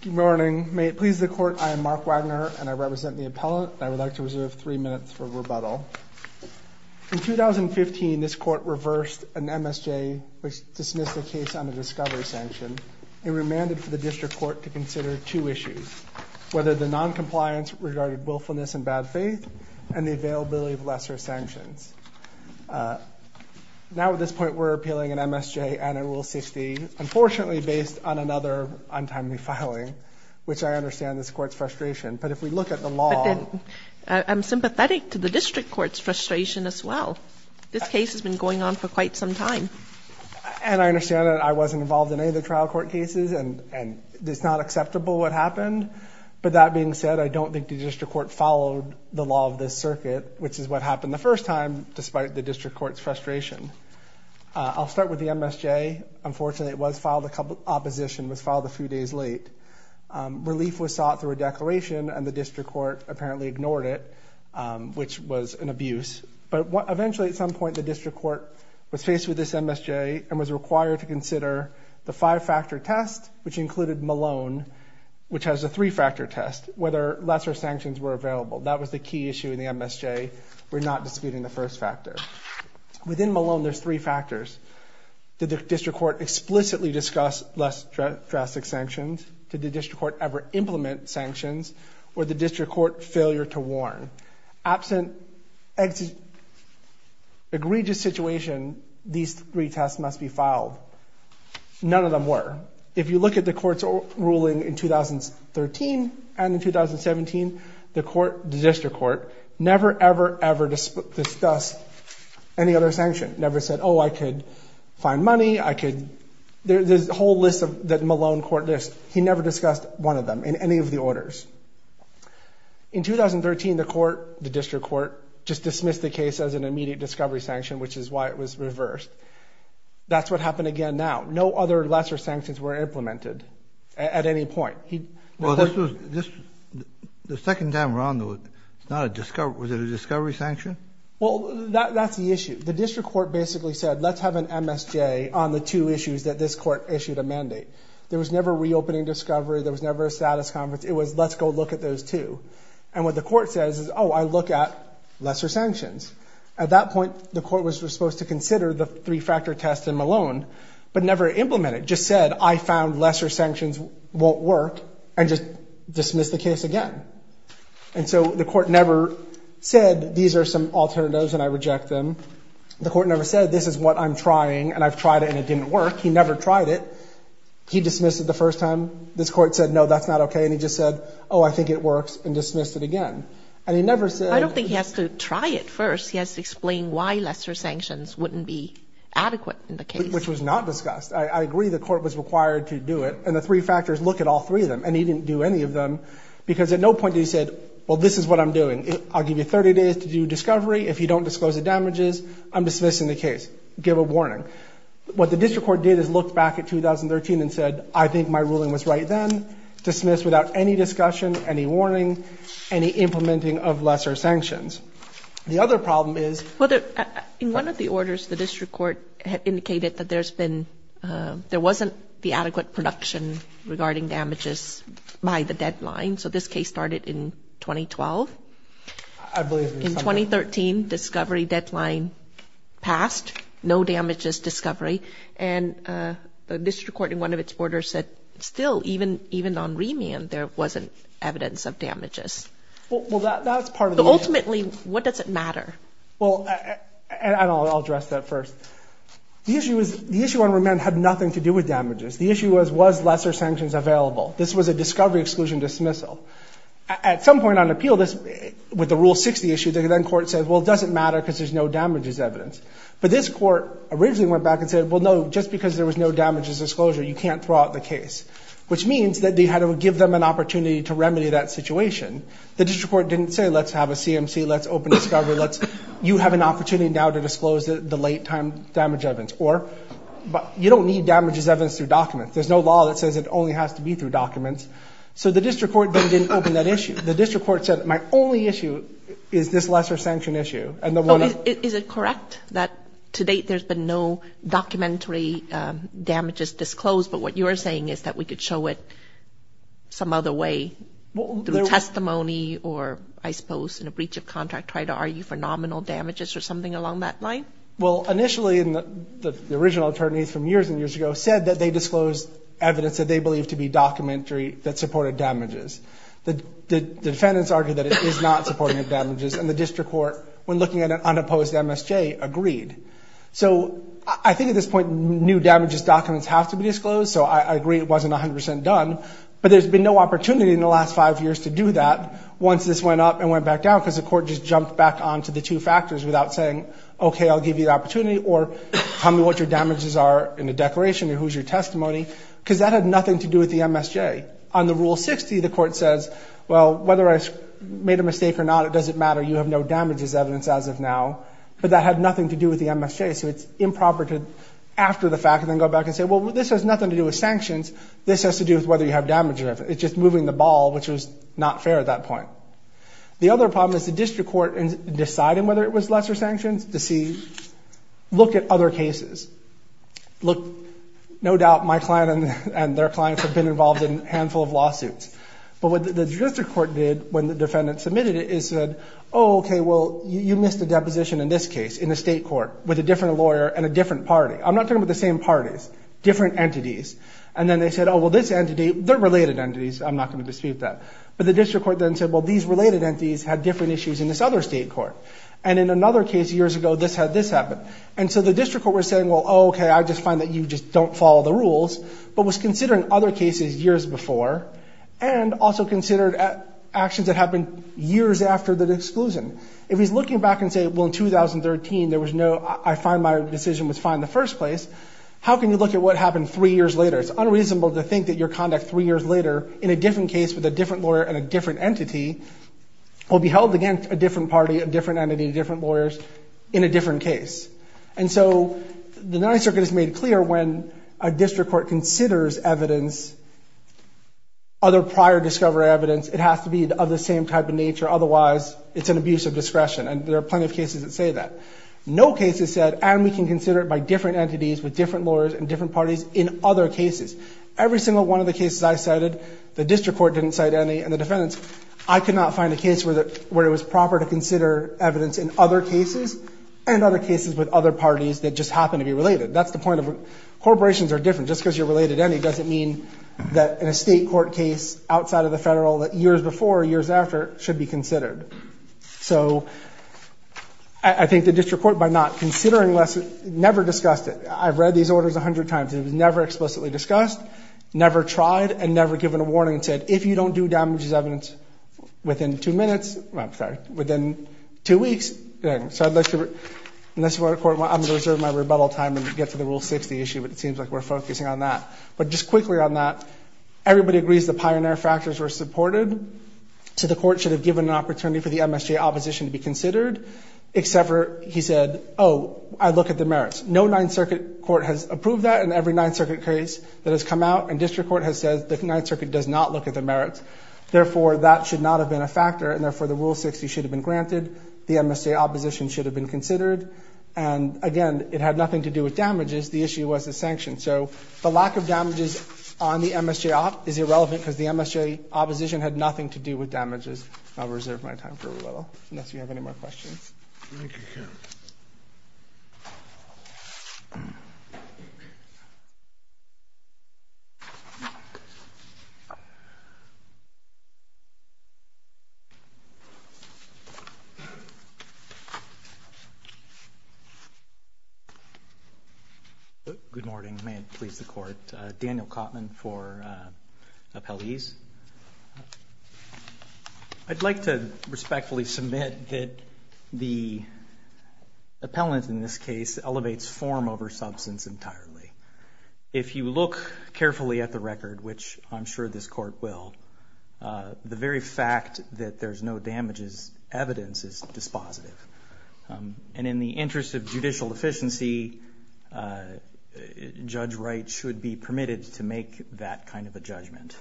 Good morning. May it please the court, I am Mark Wagner and I represent the appellate. I would like to reserve three minutes for rebuttal. In 2015 this court reversed an MSJ which dismissed a case on a discovery sanction. It remanded for the district court to consider two issues, whether the non-compliance regarded willfulness and bad faith and the availability of lesser sanctions. Now at this point we're appealing an MSJ and a Rule 60, unfortunately based on another untimely filing, which I understand this court's frustration, but if we look at the law... I'm sympathetic to the district court's frustration as well. This case has been going on for quite some time. And I understand that I wasn't involved in any of the trial court cases and it's not acceptable what happened, but that being said I don't think the district court followed the law of this circuit, which is what happened the first time, despite the district court's frustration. I'll start with the MSJ. Unfortunately it was filed a couple... opposition was filed a few days late. Relief was sought through a declaration and the district court apparently ignored it, which was an abuse. But eventually at some point the district court was faced with this MSJ and was required to consider the five-factor test, which included Malone, which has a three-factor test, whether lesser sanctions were available. That was the key issue in the MSJ. We're not disputing the first factor. Within Malone there's three factors. Did the district court explicitly discuss less drastic sanctions? Did the district court ever implement sanctions? Or the district court failure to warn? Absent egregious situation, these three tests must be filed. None of them were. If you look at the court's ruling in 2013 and in 2017, the court, the district court, never ever ever discussed any other sanction. Never said, oh I could find money, I could... there's a whole list of that Malone court list. He never discussed one of them in any of the orders. In 2013 the court, the district court, just dismissed the case as an immediate discovery sanction, which is why it was reversed. That's what happened again now. No other lesser sanctions were implemented at any point. Well this was... the second time around though, it's not a discovery... was it a discovery sanction? Well that's the issue. The district court basically said let's have an MSJ on the two issues that this court issued a mandate. There was never reopening discovery, there was never a status conference, it was let's go look at those two. And what the court says is, oh I look at lesser sanctions. At that point the court was supposed to consider the three-factor test in Malone, but never implemented. Just said I found lesser sanctions won't work and just dismissed the case again. And so the court never said these are some alternatives and I reject them. The court never said this is what I'm trying and I've tried it and it didn't work. He never tried it. He dismissed it the first time. This court said no that's not okay and he just said oh I think it works and dismissed it again. And he never said... I don't think he has to try it first. He has to explain why lesser sanctions wouldn't be adequate in the case. Which was not discussed. I agree the court was required to do it and the three factors look at all three of them and he didn't do any of them because at no point he said well this is what I'm doing. I'll give you 30 days to do discovery. If you don't disclose the damages, I'm dismissing the case. Give a warning. What the district court did is look back at 2013 and said I think my ruling was right then. Dismissed without any discussion, any warning, any implementing of lesser sanctions. The other problem is... In one of the orders the district court indicated that there's been... there by the deadline. So this case started in 2012. In 2013 discovery deadline passed. No damages discovery. And the district court in one of its orders said still even even on remand there wasn't evidence of damages. Ultimately what does it matter? Well and I'll address that first. The issue was the issue on remand had nothing to do with damages. The issue was was lesser sanctions available. This was a discovery exclusion dismissal. At some point on appeal this with the Rule 60 issue the then court said well it doesn't matter because there's no damages evidence. But this court originally went back and said well no just because there was no damages disclosure you can't throw out the case. Which means that they had to give them an opportunity to remedy that situation. The district court didn't say let's have a CMC, let's open discovery, let's you have an opportunity now to disclose the late time damage evidence. Or but you don't need damages evidence through documents. There's no law that says it only has to be through documents. So the district court then didn't open that issue. The district court said my only issue is this lesser sanction issue. Is it correct that to date there's been no documentary damages disclosed but what you're saying is that we could show it some other way through testimony or I suppose in a breach of contract try to argue for nominal damages or something along that line? Well initially in the original attorneys from years and years ago said that they disclosed evidence that they believed to be documentary that supported damages. The defendants argued that it is not supporting of damages and the district court when looking at an unopposed MSJ agreed. So I think at this point new damages documents have to be disclosed so I agree it wasn't a hundred percent done but there's been no opportunity in the last five years to do that once this went up and went back down because the court just jumped back on to the two factors without saying okay I'll give you the opportunity or tell me what your damages are in the declaration or who's your testimony because that had nothing to do with the MSJ. On the rule 60 the court says well whether I made a mistake or not it doesn't matter you have no damages evidence as of now but that had nothing to do with the MSJ so it's improper to after the fact and then go back and say well this has nothing to do with sanctions this has to do with whether you have damage or if it's just moving the ball which was not fair at that point. The other problem is the look at other cases look no doubt my client and their clients have been involved in a handful of lawsuits but what the district court did when the defendant submitted it is said okay well you missed a deposition in this case in the state court with a different lawyer and a different party I'm not talking about the same parties different entities and then they said oh well this entity they're related entities I'm not going to dispute that but the district court then said well these related entities had different issues in this other state court and in another case years ago this had this happen and so the district court was saying well okay I just find that you just don't follow the rules but was considering other cases years before and also considered actions that happened years after the disclosure if he's looking back and say well in 2013 there was no I find my decision was fine in the first place how can you look at what happened three years later it's unreasonable to think that your conduct three years later in a different case with a different lawyer and a different entity will be held against a different party a different entity different lawyers in a different case and so the Ninth Circuit is made clear when a district court considers evidence other prior discovery evidence it has to be of the same type of nature otherwise it's an abuse of discretion and there are plenty of cases that say that no cases said and we can consider it by different entities with different lawyers and different parties in other cases every single one of the cases I cited the district court didn't cite any and the defendants I could not find a case where that where it was proper to consider evidence in other cases and other cases with other parties that just happen to be related that's the point of corporations are different just because you're related any doesn't mean that in a state court case outside of the federal that years before years after should be considered so I think the district court by not considering less never discussed it I've read these orders a hundred times it was never explicitly discussed never tried and you don't do damage as evidence within two minutes I'm sorry within two weeks so unless you're in this court well I'm gonna reserve my rebuttal time and get to the rule 60 issue but it seems like we're focusing on that but just quickly on that everybody agrees the pioneer factors were supported so the court should have given an opportunity for the MSJ opposition to be considered except for he said oh I look at the merits no Ninth Circuit court has approved that in every Ninth Circuit case that has come out and district court has said the Ninth Circuit does not look at the merits therefore that should not have been a factor and therefore the rule 60 should have been granted the MSJ opposition should have been considered and again it had nothing to do with damages the issue was the sanction so the lack of damages on the MSJ op is irrelevant because the MSJ opposition had nothing to do with damages I'll reserve my time for a little unless you have any more questions you good morning may it please the court Daniel Cotman for appellees I'd like to respectfully submit that the appellant in this case elevates form over sure this court will the very fact that there's no damages evidence is dispositive and in the interest of judicial efficiency judge Wright should be permitted to make that kind of a judgment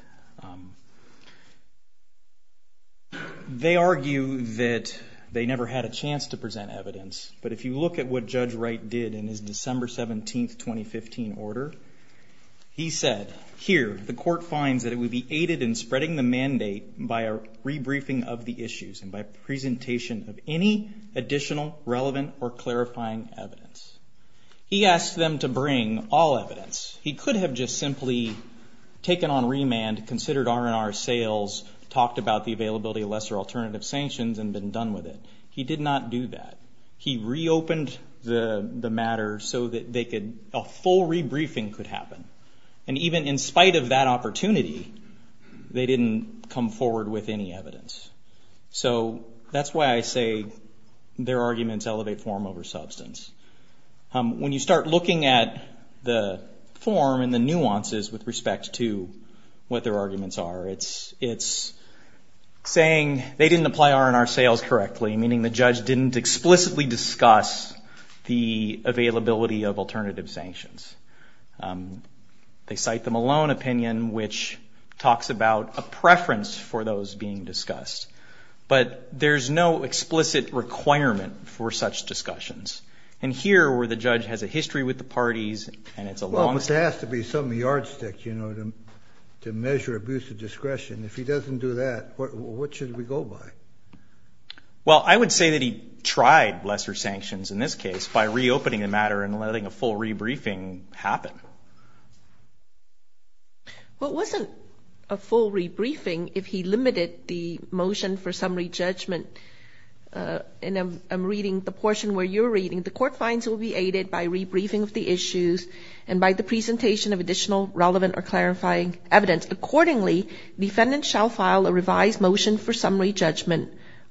they argue that they never had a chance to present evidence but if you look at what judge Wright did in his December 17th 2015 order he said here the court finds that it would be aided in spreading the mandate by a rebriefing of the issues and by presentation of any additional relevant or clarifying evidence he asked them to bring all evidence he could have just simply taken on remand considered our in our sales talked about the availability of lesser alternative sanctions and been done with it he did not do that he reopened the the matter so that they could a full rebriefing could happen and even in opportunity they didn't come forward with any evidence so that's why I say their arguments elevate form over substance when you start looking at the form and the nuances with respect to what their arguments are it's it's saying they didn't apply our in our sales correctly meaning the judge didn't explicitly discuss the availability of alternative sanctions they cite them alone opinion which talks about a preference for those being discussed but there's no explicit requirement for such discussions and here where the judge has a history with the parties and it's a long but there has to be some yardstick you know them to measure abuse of discretion if he doesn't do that what should we go by well I would say that he tried lesser sanctions in this case by reopening the matter and letting a full rebriefing happen what wasn't a full rebriefing if he limited the motion for summary judgment and I'm reading the portion where you're reading the court finds will be aided by rebriefing of the issues and by the presentation of additional relevant or clarifying evidence accordingly defendant shall file a revised motion for summary judgment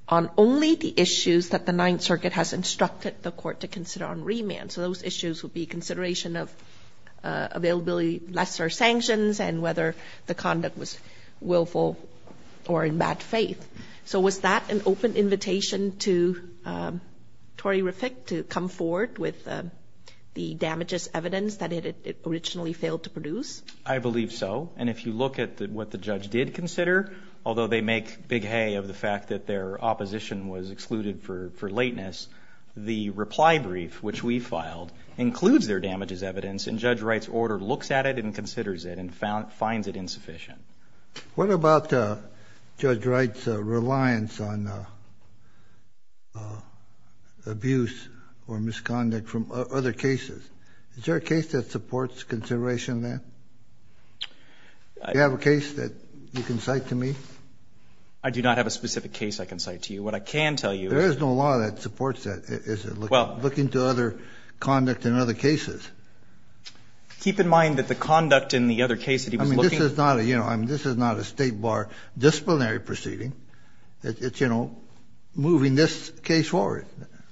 on only the issues that the Ninth Circuit has instructed the court to consider on remand so those issues would be consideration of availability lesser sanctions and whether the conduct was willful or in bad faith so was that an open invitation to Tory reflect to come forward with the damages evidence that it originally failed to produce I believe so and if you look at that what the judge did consider although they make big hay of the fact that their opposition was excluded for for lateness the reply brief which we filed includes their damages evidence and judge Wright's order looks at it and considers it and found finds it insufficient what about judge Wright's reliance on abuse or misconduct from other cases is there a case that supports consideration there you have a case that you can cite to me I do not have a specific case I can cite to you what I can tell you there is no law that supports that is it well looking to other conduct in other cases keep in mind that the conduct in the other case I mean this is not a you know I'm this is not a state bar disciplinary proceeding it's you know moving this case forward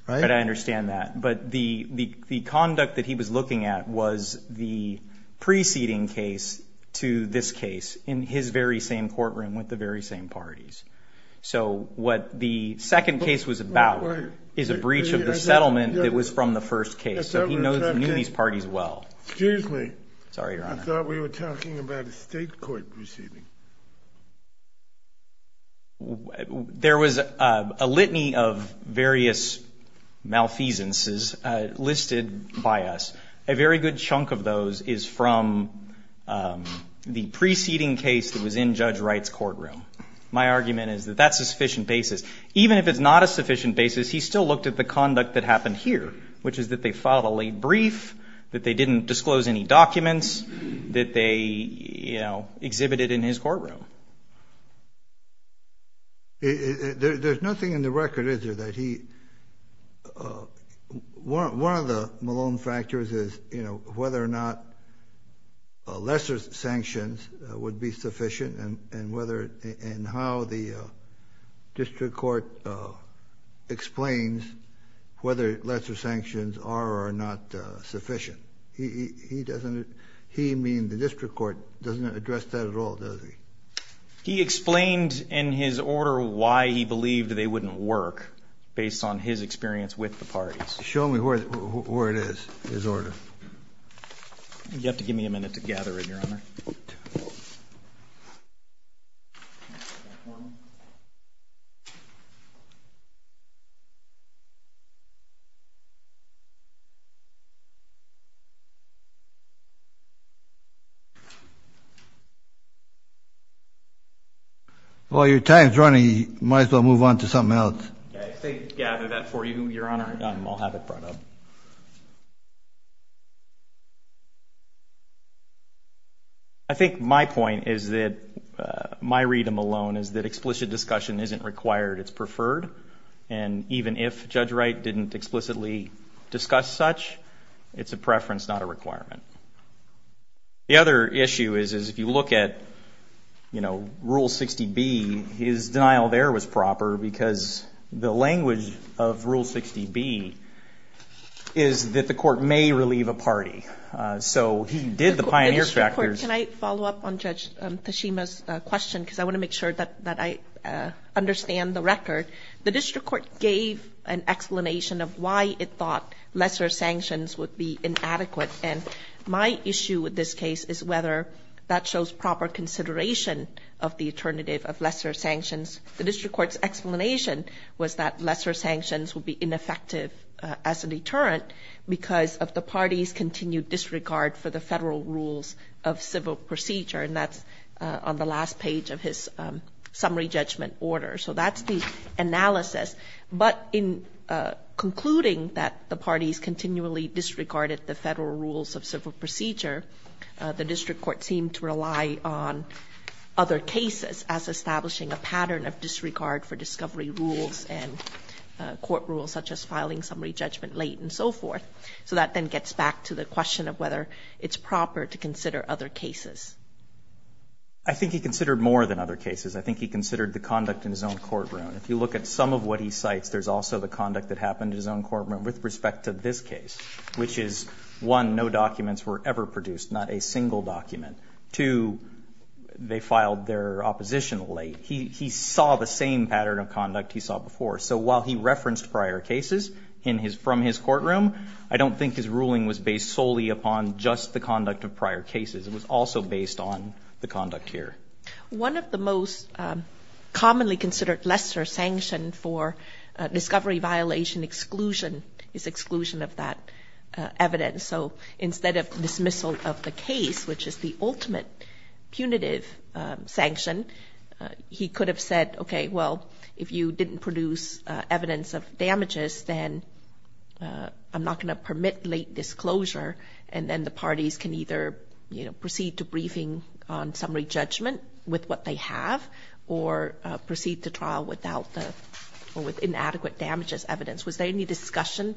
right I understand that but the the conduct that he was looking at was the preceding case to this case in his very same courtroom with the very same parties so what the second case was about is a breach of the settlement that was from the first case so he knows these parties well there was a litany of various malfeasances listed by us a very good chunk of those is from the my argument is that that's a sufficient basis even if it's not a sufficient basis he still looked at the conduct that happened here which is that they filed a late brief that they didn't disclose any documents that they you know exhibited in his courtroom there's nothing in the record is there that he one of the Malone factors is you know whether or not lesser sanctions would be how the district court explains whether lesser sanctions are or not sufficient he doesn't he mean the district court doesn't address that at all does he he explained in his order why he believed they wouldn't work based on his experience with the parties show me where it is his order you have to give me a minute to gather in your honor while your time's running you might as well move on to something else I think my point is that my read of Malone is that explicit discussion isn't required it's preferred and even if judge Wright didn't explicitly discuss such it's a preference not a requirement the other issue is is if you look at you know rule 60 B his denial there was proper because the language of rule 60 B is that the court may relieve a party so he did the pioneer factors follow up on judge Tashima's question because I want to make sure that that I understand the record the district court gave an explanation of why it thought lesser sanctions would be inadequate and my issue with this case is whether that shows proper consideration of the alternative of lesser sanctions the as a deterrent because of the party's continued disregard for the federal rules of civil procedure and that's on the last page of his summary judgment order so that's the analysis but in concluding that the party's continually disregarded the federal rules of civil procedure the district court seemed to rely on other cases as establishing a pattern of disregard for discovery rules and court rules such as filing summary judgment late and so forth so that then gets back to the question of whether it's proper to consider other cases I think he considered more than other cases I think he considered the conduct in his own courtroom if you look at some of what he cites there's also the conduct that happened in his own courtroom with respect to this case which is one no documents were ever produced not a single document to they filed their opposition late he saw the same pattern of conduct he saw before so while he referenced prior cases in his from his courtroom I don't think his ruling was based solely upon just the conduct of prior cases it was also based on the conduct here one of the most commonly considered lesser sanction for discovery violation exclusion is exclusion of that evidence so instead of dismissal of the case which is the ultimate punitive sanction he could have said okay well if you didn't produce evidence of damages then I'm not going to permit late disclosure and then the parties can either you know proceed to briefing on summary judgment with what they have or proceed to trial without the or with inadequate damages evidence was there any discussion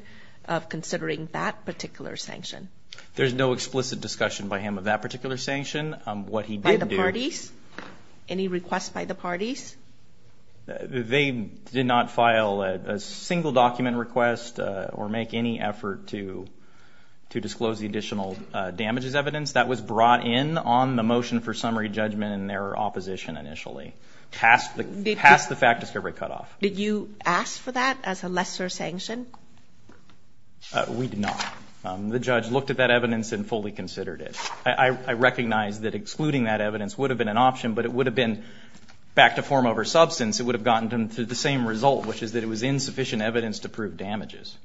of considering that particular sanction there's no explicit discussion by him of that particular sanction what he did parties any requests by the parties they did not file a single document request or make any effort to to disclose the additional damages evidence that was brought in on the motion for summary judgment in their opposition initially past the past the fact discovery cutoff did you ask for that as a lesser sanction we did not the judge looked at that evidence and fully considered it I recognized that excluding that evidence would have been an option but it would have been back to form over substance it would have gotten them to the same result which is that it was insufficient evidence to prove damages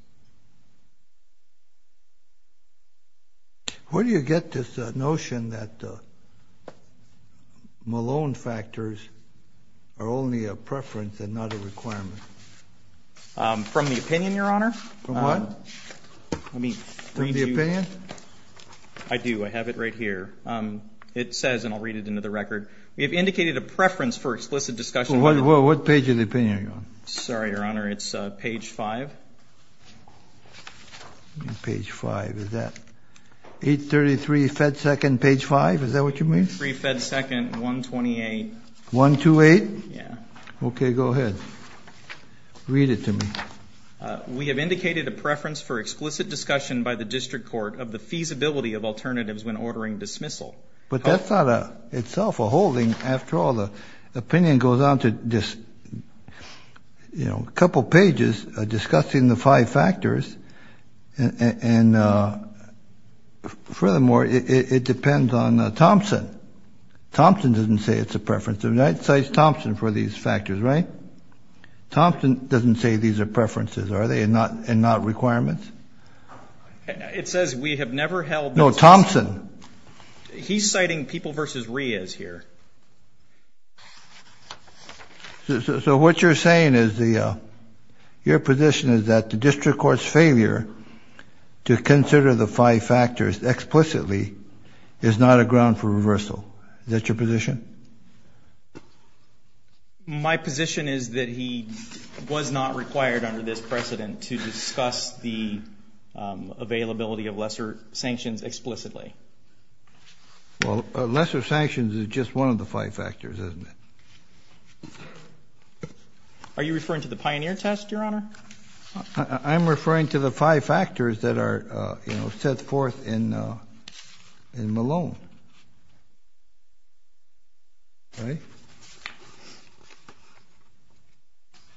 where do you get this notion that Malone factors are only a preference and not a from the opinion your honor I mean I do I have it right here it says and I'll read it into the record we have indicated a preference for explicit discussion what page of the opinion sorry your honor it's page 5 page 5 is that 833 fed 2nd page 5 is that what you mean 3 fed 2nd 128 128 yeah okay go read it to me we have indicated a preference for explicit discussion by the district court of the feasibility of alternatives when ordering dismissal but that's not a itself a holding after all the opinion goes on to just you know a couple pages discussing the five factors and furthermore it depends on Thompson Thompson doesn't say it's a preference of night size Thompson for these factors right Thompson doesn't say these are preferences are they and not and not requirements it says we have never held no Thompson he's citing people versus Ria's here so what you're saying is the your position is that the district courts failure to consider the five factors explicitly is not a ground for reversal that's your position my position is that he was not required under this precedent to discuss the availability of lesser sanctions explicitly well lesser sanctions is just one of the five factors isn't it are you referring to the pioneer test your honor I'm referring to the five factors that are you know set forth in in Malone right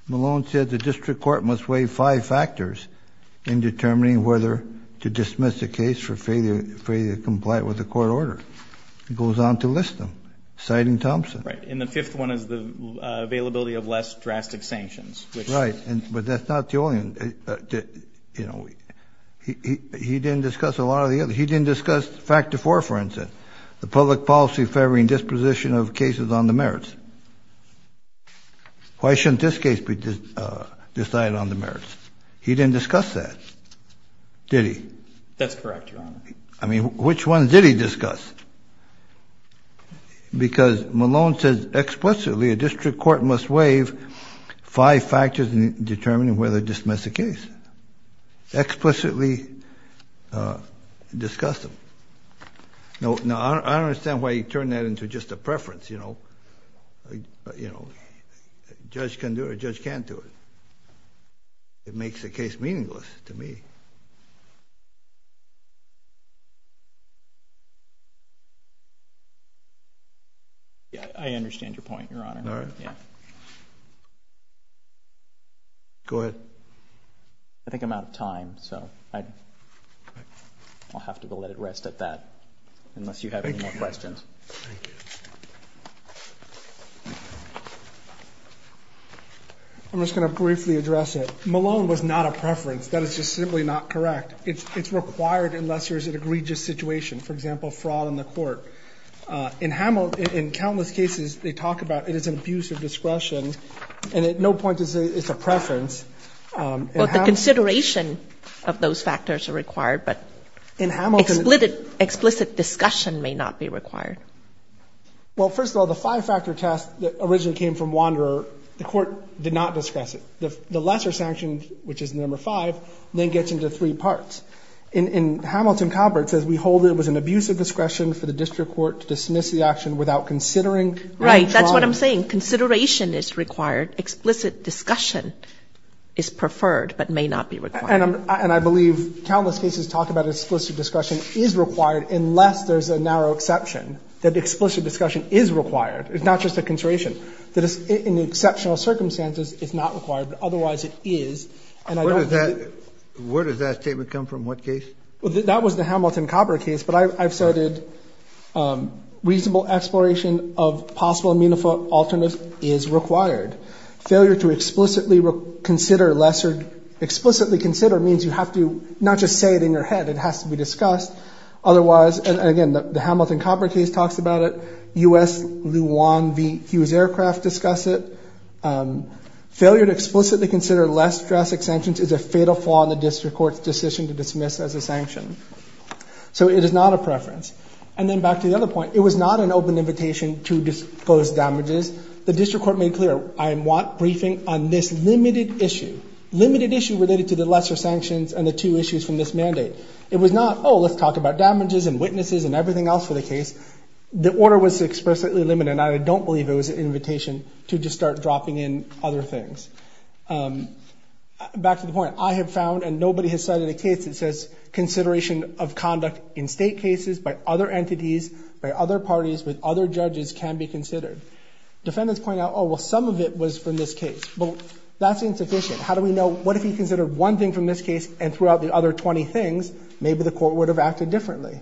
Malone said the district court must weigh five factors in determining whether to dismiss the case for failure for you to comply with the court order it goes on to list them citing Thompson right in the fifth one is the availability of less drastic sanctions right and but that's not the only one you know he didn't discuss a lot of the other he didn't discuss factor for instance the public policy favoring disposition of cases on the merits why shouldn't this case be decided on the merits he didn't discuss that did he that's correct I mean which one did he discuss because Malone says explicitly a explicitly discuss them no no I don't understand why you turn that into just a preference you know you know judge can do it judge can't do it it makes the case meaningless to me you yeah I understand your point your honor all right yeah go ahead I think I'm out of time so I I'll have to go let it rest at that unless you have any more questions I'm just gonna briefly address it Malone was not a preference that is just simply not correct it's required unless there's an egregious situation for example fraud in the court in Hamilton in countless cases they talk about it is an abuse of discretion and at no point is it's a preference but the consideration of those factors are required but in Hamilton lit it explicit discussion may not be required well first of all the five-factor test that originally came from Wanderer the court did not discuss it the lesser sanction which is number five then gets into three parts in in Hamilton Convert says we hold it was an abuse of discretion for the district court to dismiss the action without considering right that's what I'm saying consideration is required explicit discussion is preferred but may not be required and I believe countless cases talk about explicit discussion is required unless there's a narrow exception that explicit discussion is required it's not just a consideration that is in exceptional circumstances it's not required but is and I don't know that where does that statement come from what case well that was the Hamilton copper case but I've started reasonable exploration of possible meaningful alternative is required failure to explicitly consider lesser explicitly consider means you have to not just say it in your head it has to be discussed otherwise and again the Hamilton copper case talks about it the Hughes aircraft discuss it failure to explicitly consider less drastic sanctions is a fatal flaw in the district court's decision to dismiss as a sanction so it is not a preference and then back to the other point it was not an open invitation to disclose damages the district court made clear I am want briefing on this limited issue limited issue related to the lesser sanctions and the two issues from this mandate it was not oh let's talk about damages and I don't believe it was an invitation to just start dropping in other things back to the point I have found and nobody has cited a case that says consideration of conduct in state cases by other entities by other parties with other judges can be considered defendants point out oh well some of it was from this case well that's insufficient how do we know what if he considered one thing from this case and throughout the other 20 things maybe the court would have acted differently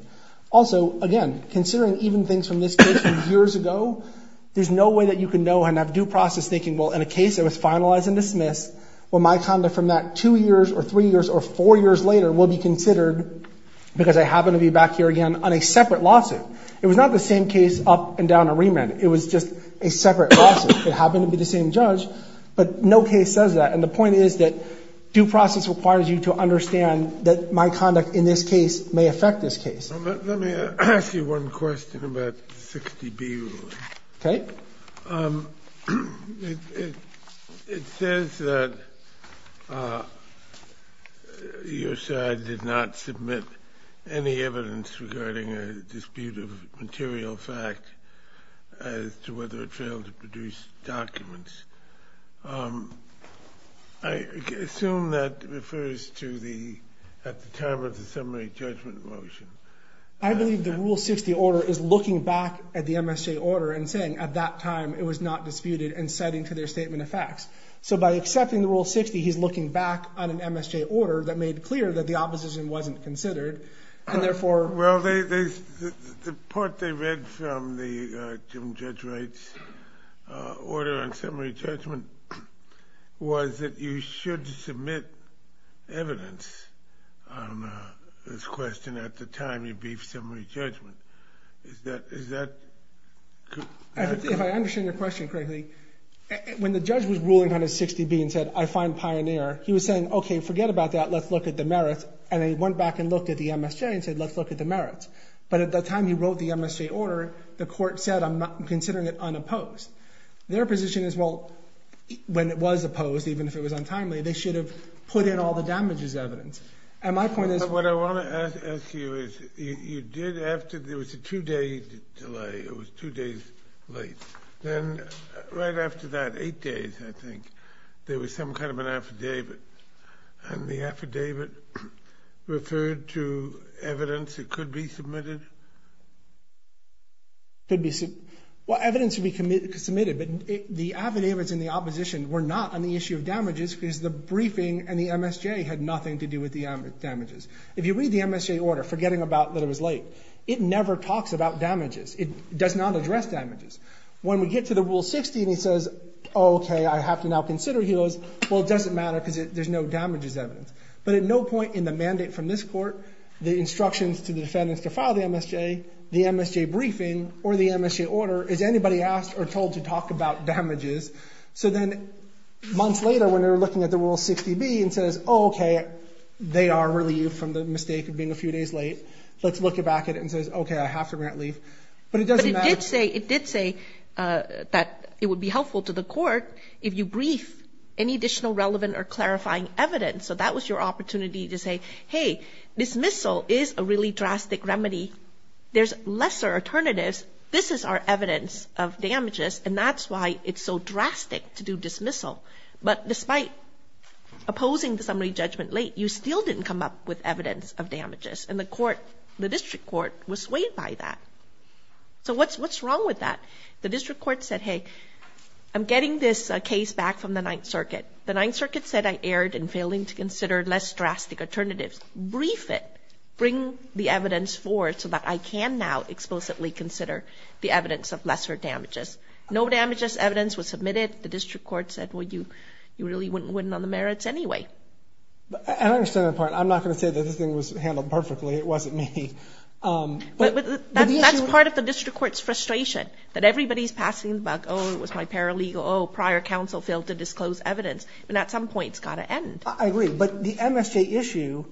also again considering even things from this case years ago there's no way that you can know and have due process thinking well in a case that was finalized and dismissed well my conduct from that two years or three years or four years later will be considered because I happen to be back here again on a separate lawsuit it was not the same case up and down a remand it was just a separate it happened to be the same judge but no case says that and the point is that due process requires you to understand that my conduct in this case may affect this case let me ask you one question about 60 B okay it says that your side did not submit any evidence regarding a dispute of material fact as to whether it failed to produce documents I assume that refers to the at I believe the rule 60 order is looking back at the MSJ order and saying at that time it was not disputed and setting to their statement of facts so by accepting the rule 60 he's looking back on an MSJ order that made clear that the opposition wasn't considered and therefore well they the part they read from the judge rates order on summary judgment was that you should submit evidence this question at the time you beef summary judgment is that is that if I understand your question correctly when the judge was ruling on a 60 B and said I find pioneer he was saying okay forget about that let's look at the merits and they went back and looked at the MSJ and said let's look at the merits but at the time he wrote the MSJ order the court said I'm not considering it unopposed their position is well when it was opposed even if it was untimely they should have put in all the damages evidence and my point is what I want to ask you is you did after there was a two-day delay it was two days late then right after that eight days I think there was some kind of an affidavit and the affidavit referred to evidence it could be submitted could be seen what evidence we committed submitted but the avenues in the opposition were not on the issue of damages because the briefing and the MSJ had nothing to do with the damages if you read the MSJ order forgetting about that it was late it never talks about damages it does not address damages when we get to the rule 60 and he says okay I have to now consider he was well it doesn't matter because there's no damages evidence but at no point in the mandate from this court the instructions to the defendants to file the MSJ the MSJ briefing or the looking at the rule 60 B and says okay they are relieved from the mistake of being a few days late let's look it back at it and says okay I have to grant leave but it doesn't say it did say that it would be helpful to the court if you brief any additional relevant or clarifying evidence so that was your opportunity to say hey dismissal is a really drastic remedy there's lesser alternatives this is our evidence of damages and that's why it's so drastic to do dismissal but despite opposing the summary judgment late you still didn't come up with evidence of damages and the court the district court was swayed by that so what's what's wrong with that the district court said hey I'm getting this case back from the Ninth Circuit the Ninth Circuit said I erred in failing to consider less drastic alternatives brief it bring the evidence forward so that I can now explicitly consider the evidence of district court said would you you really wouldn't wouldn't on the merits anyway I'm not going to say that this thing was handled perfectly it wasn't me but that's part of the district courts frustration that everybody's passing back oh it was my paralegal Oh prior counsel failed to disclose evidence and at some point it's got to end I agree but the MSJ issue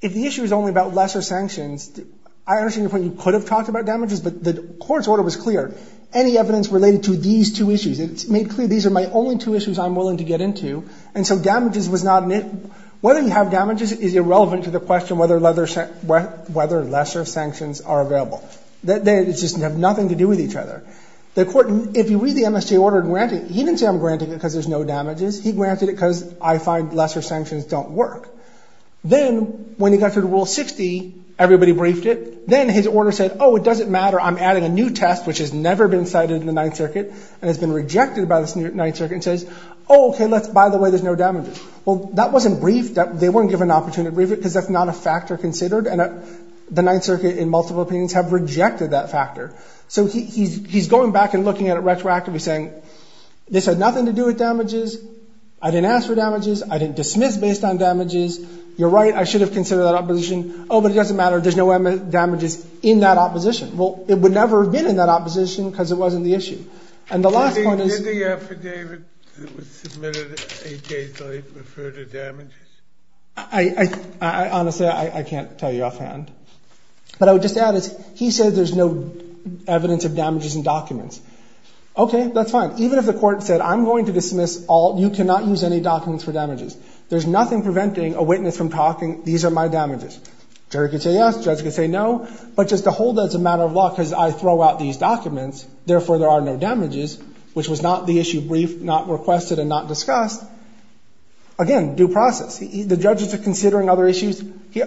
if the issue is only about lesser sanctions I understand your point you could have talked about damages but the court's order was clear any evidence related to these two issues it's made clear these are my only two issues I'm willing to get into and so damages was not in it whether you have damages is irrelevant to the question whether leather set what whether lesser sanctions are available that they just have nothing to do with each other the court if you read the MSJ order granted he didn't say I'm granting it because there's no damages he granted it because I find lesser sanctions don't work then when he got to the rule 60 everybody briefed it then his order said oh it doesn't matter I'm adding a new test which has never been cited in the Ninth Circuit and has been rejected by this new Ninth Circuit says okay let's by the way there's no damages well that wasn't briefed up they weren't given opportunity because that's not a factor considered and the Ninth Circuit in multiple opinions have rejected that factor so he's going back and looking at it retroactively saying this had nothing to do with damages I didn't ask for damages I didn't dismiss based on damages you're right I should have considered that opposition oh but it doesn't matter there's no damages in that opposition well it would never have been in that opposition because it wasn't the issue and the last one is I honestly I can't tell you offhand but I would just add is he said there's no evidence of damages and documents okay that's fine even if the court said I'm going to dismiss all you cannot use any documents for damages there's nothing preventing a witness from talking these are my damages Jerry could say yes judge could say no but just to hold as a matter of law because I throw out these documents therefore there are no damages which was not the issue brief not requested and not discussed again due process the judges are considering other issues yeah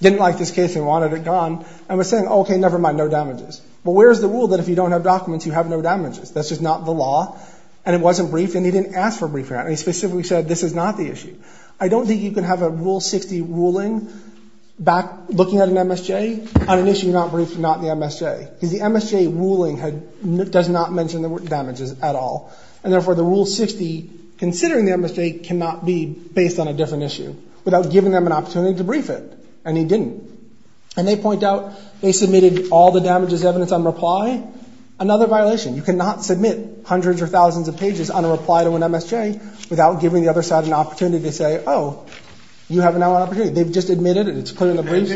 didn't like this case and wanted it gone and was saying okay nevermind no damages but where's the rule that if you don't have documents you have no damages that's just not the law and it wasn't briefed and he didn't ask for brief and he specifically said this is not the issue I don't think you can have a rule 60 ruling back looking at an MSJ on an issue not briefed not the MSJ is the MSJ ruling had does not mention the damages at all and therefore the rule 60 considering the MSJ cannot be based on a different issue without giving them an opportunity to brief it and he didn't and they point out they submitted all the damages evidence on reply another violation you cannot submit hundreds or thousands of pages on a reply to an MSJ without giving the other side an opportunity to say oh you have another opportunity they've just admitted it it's put in the brief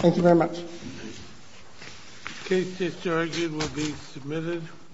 thank you very much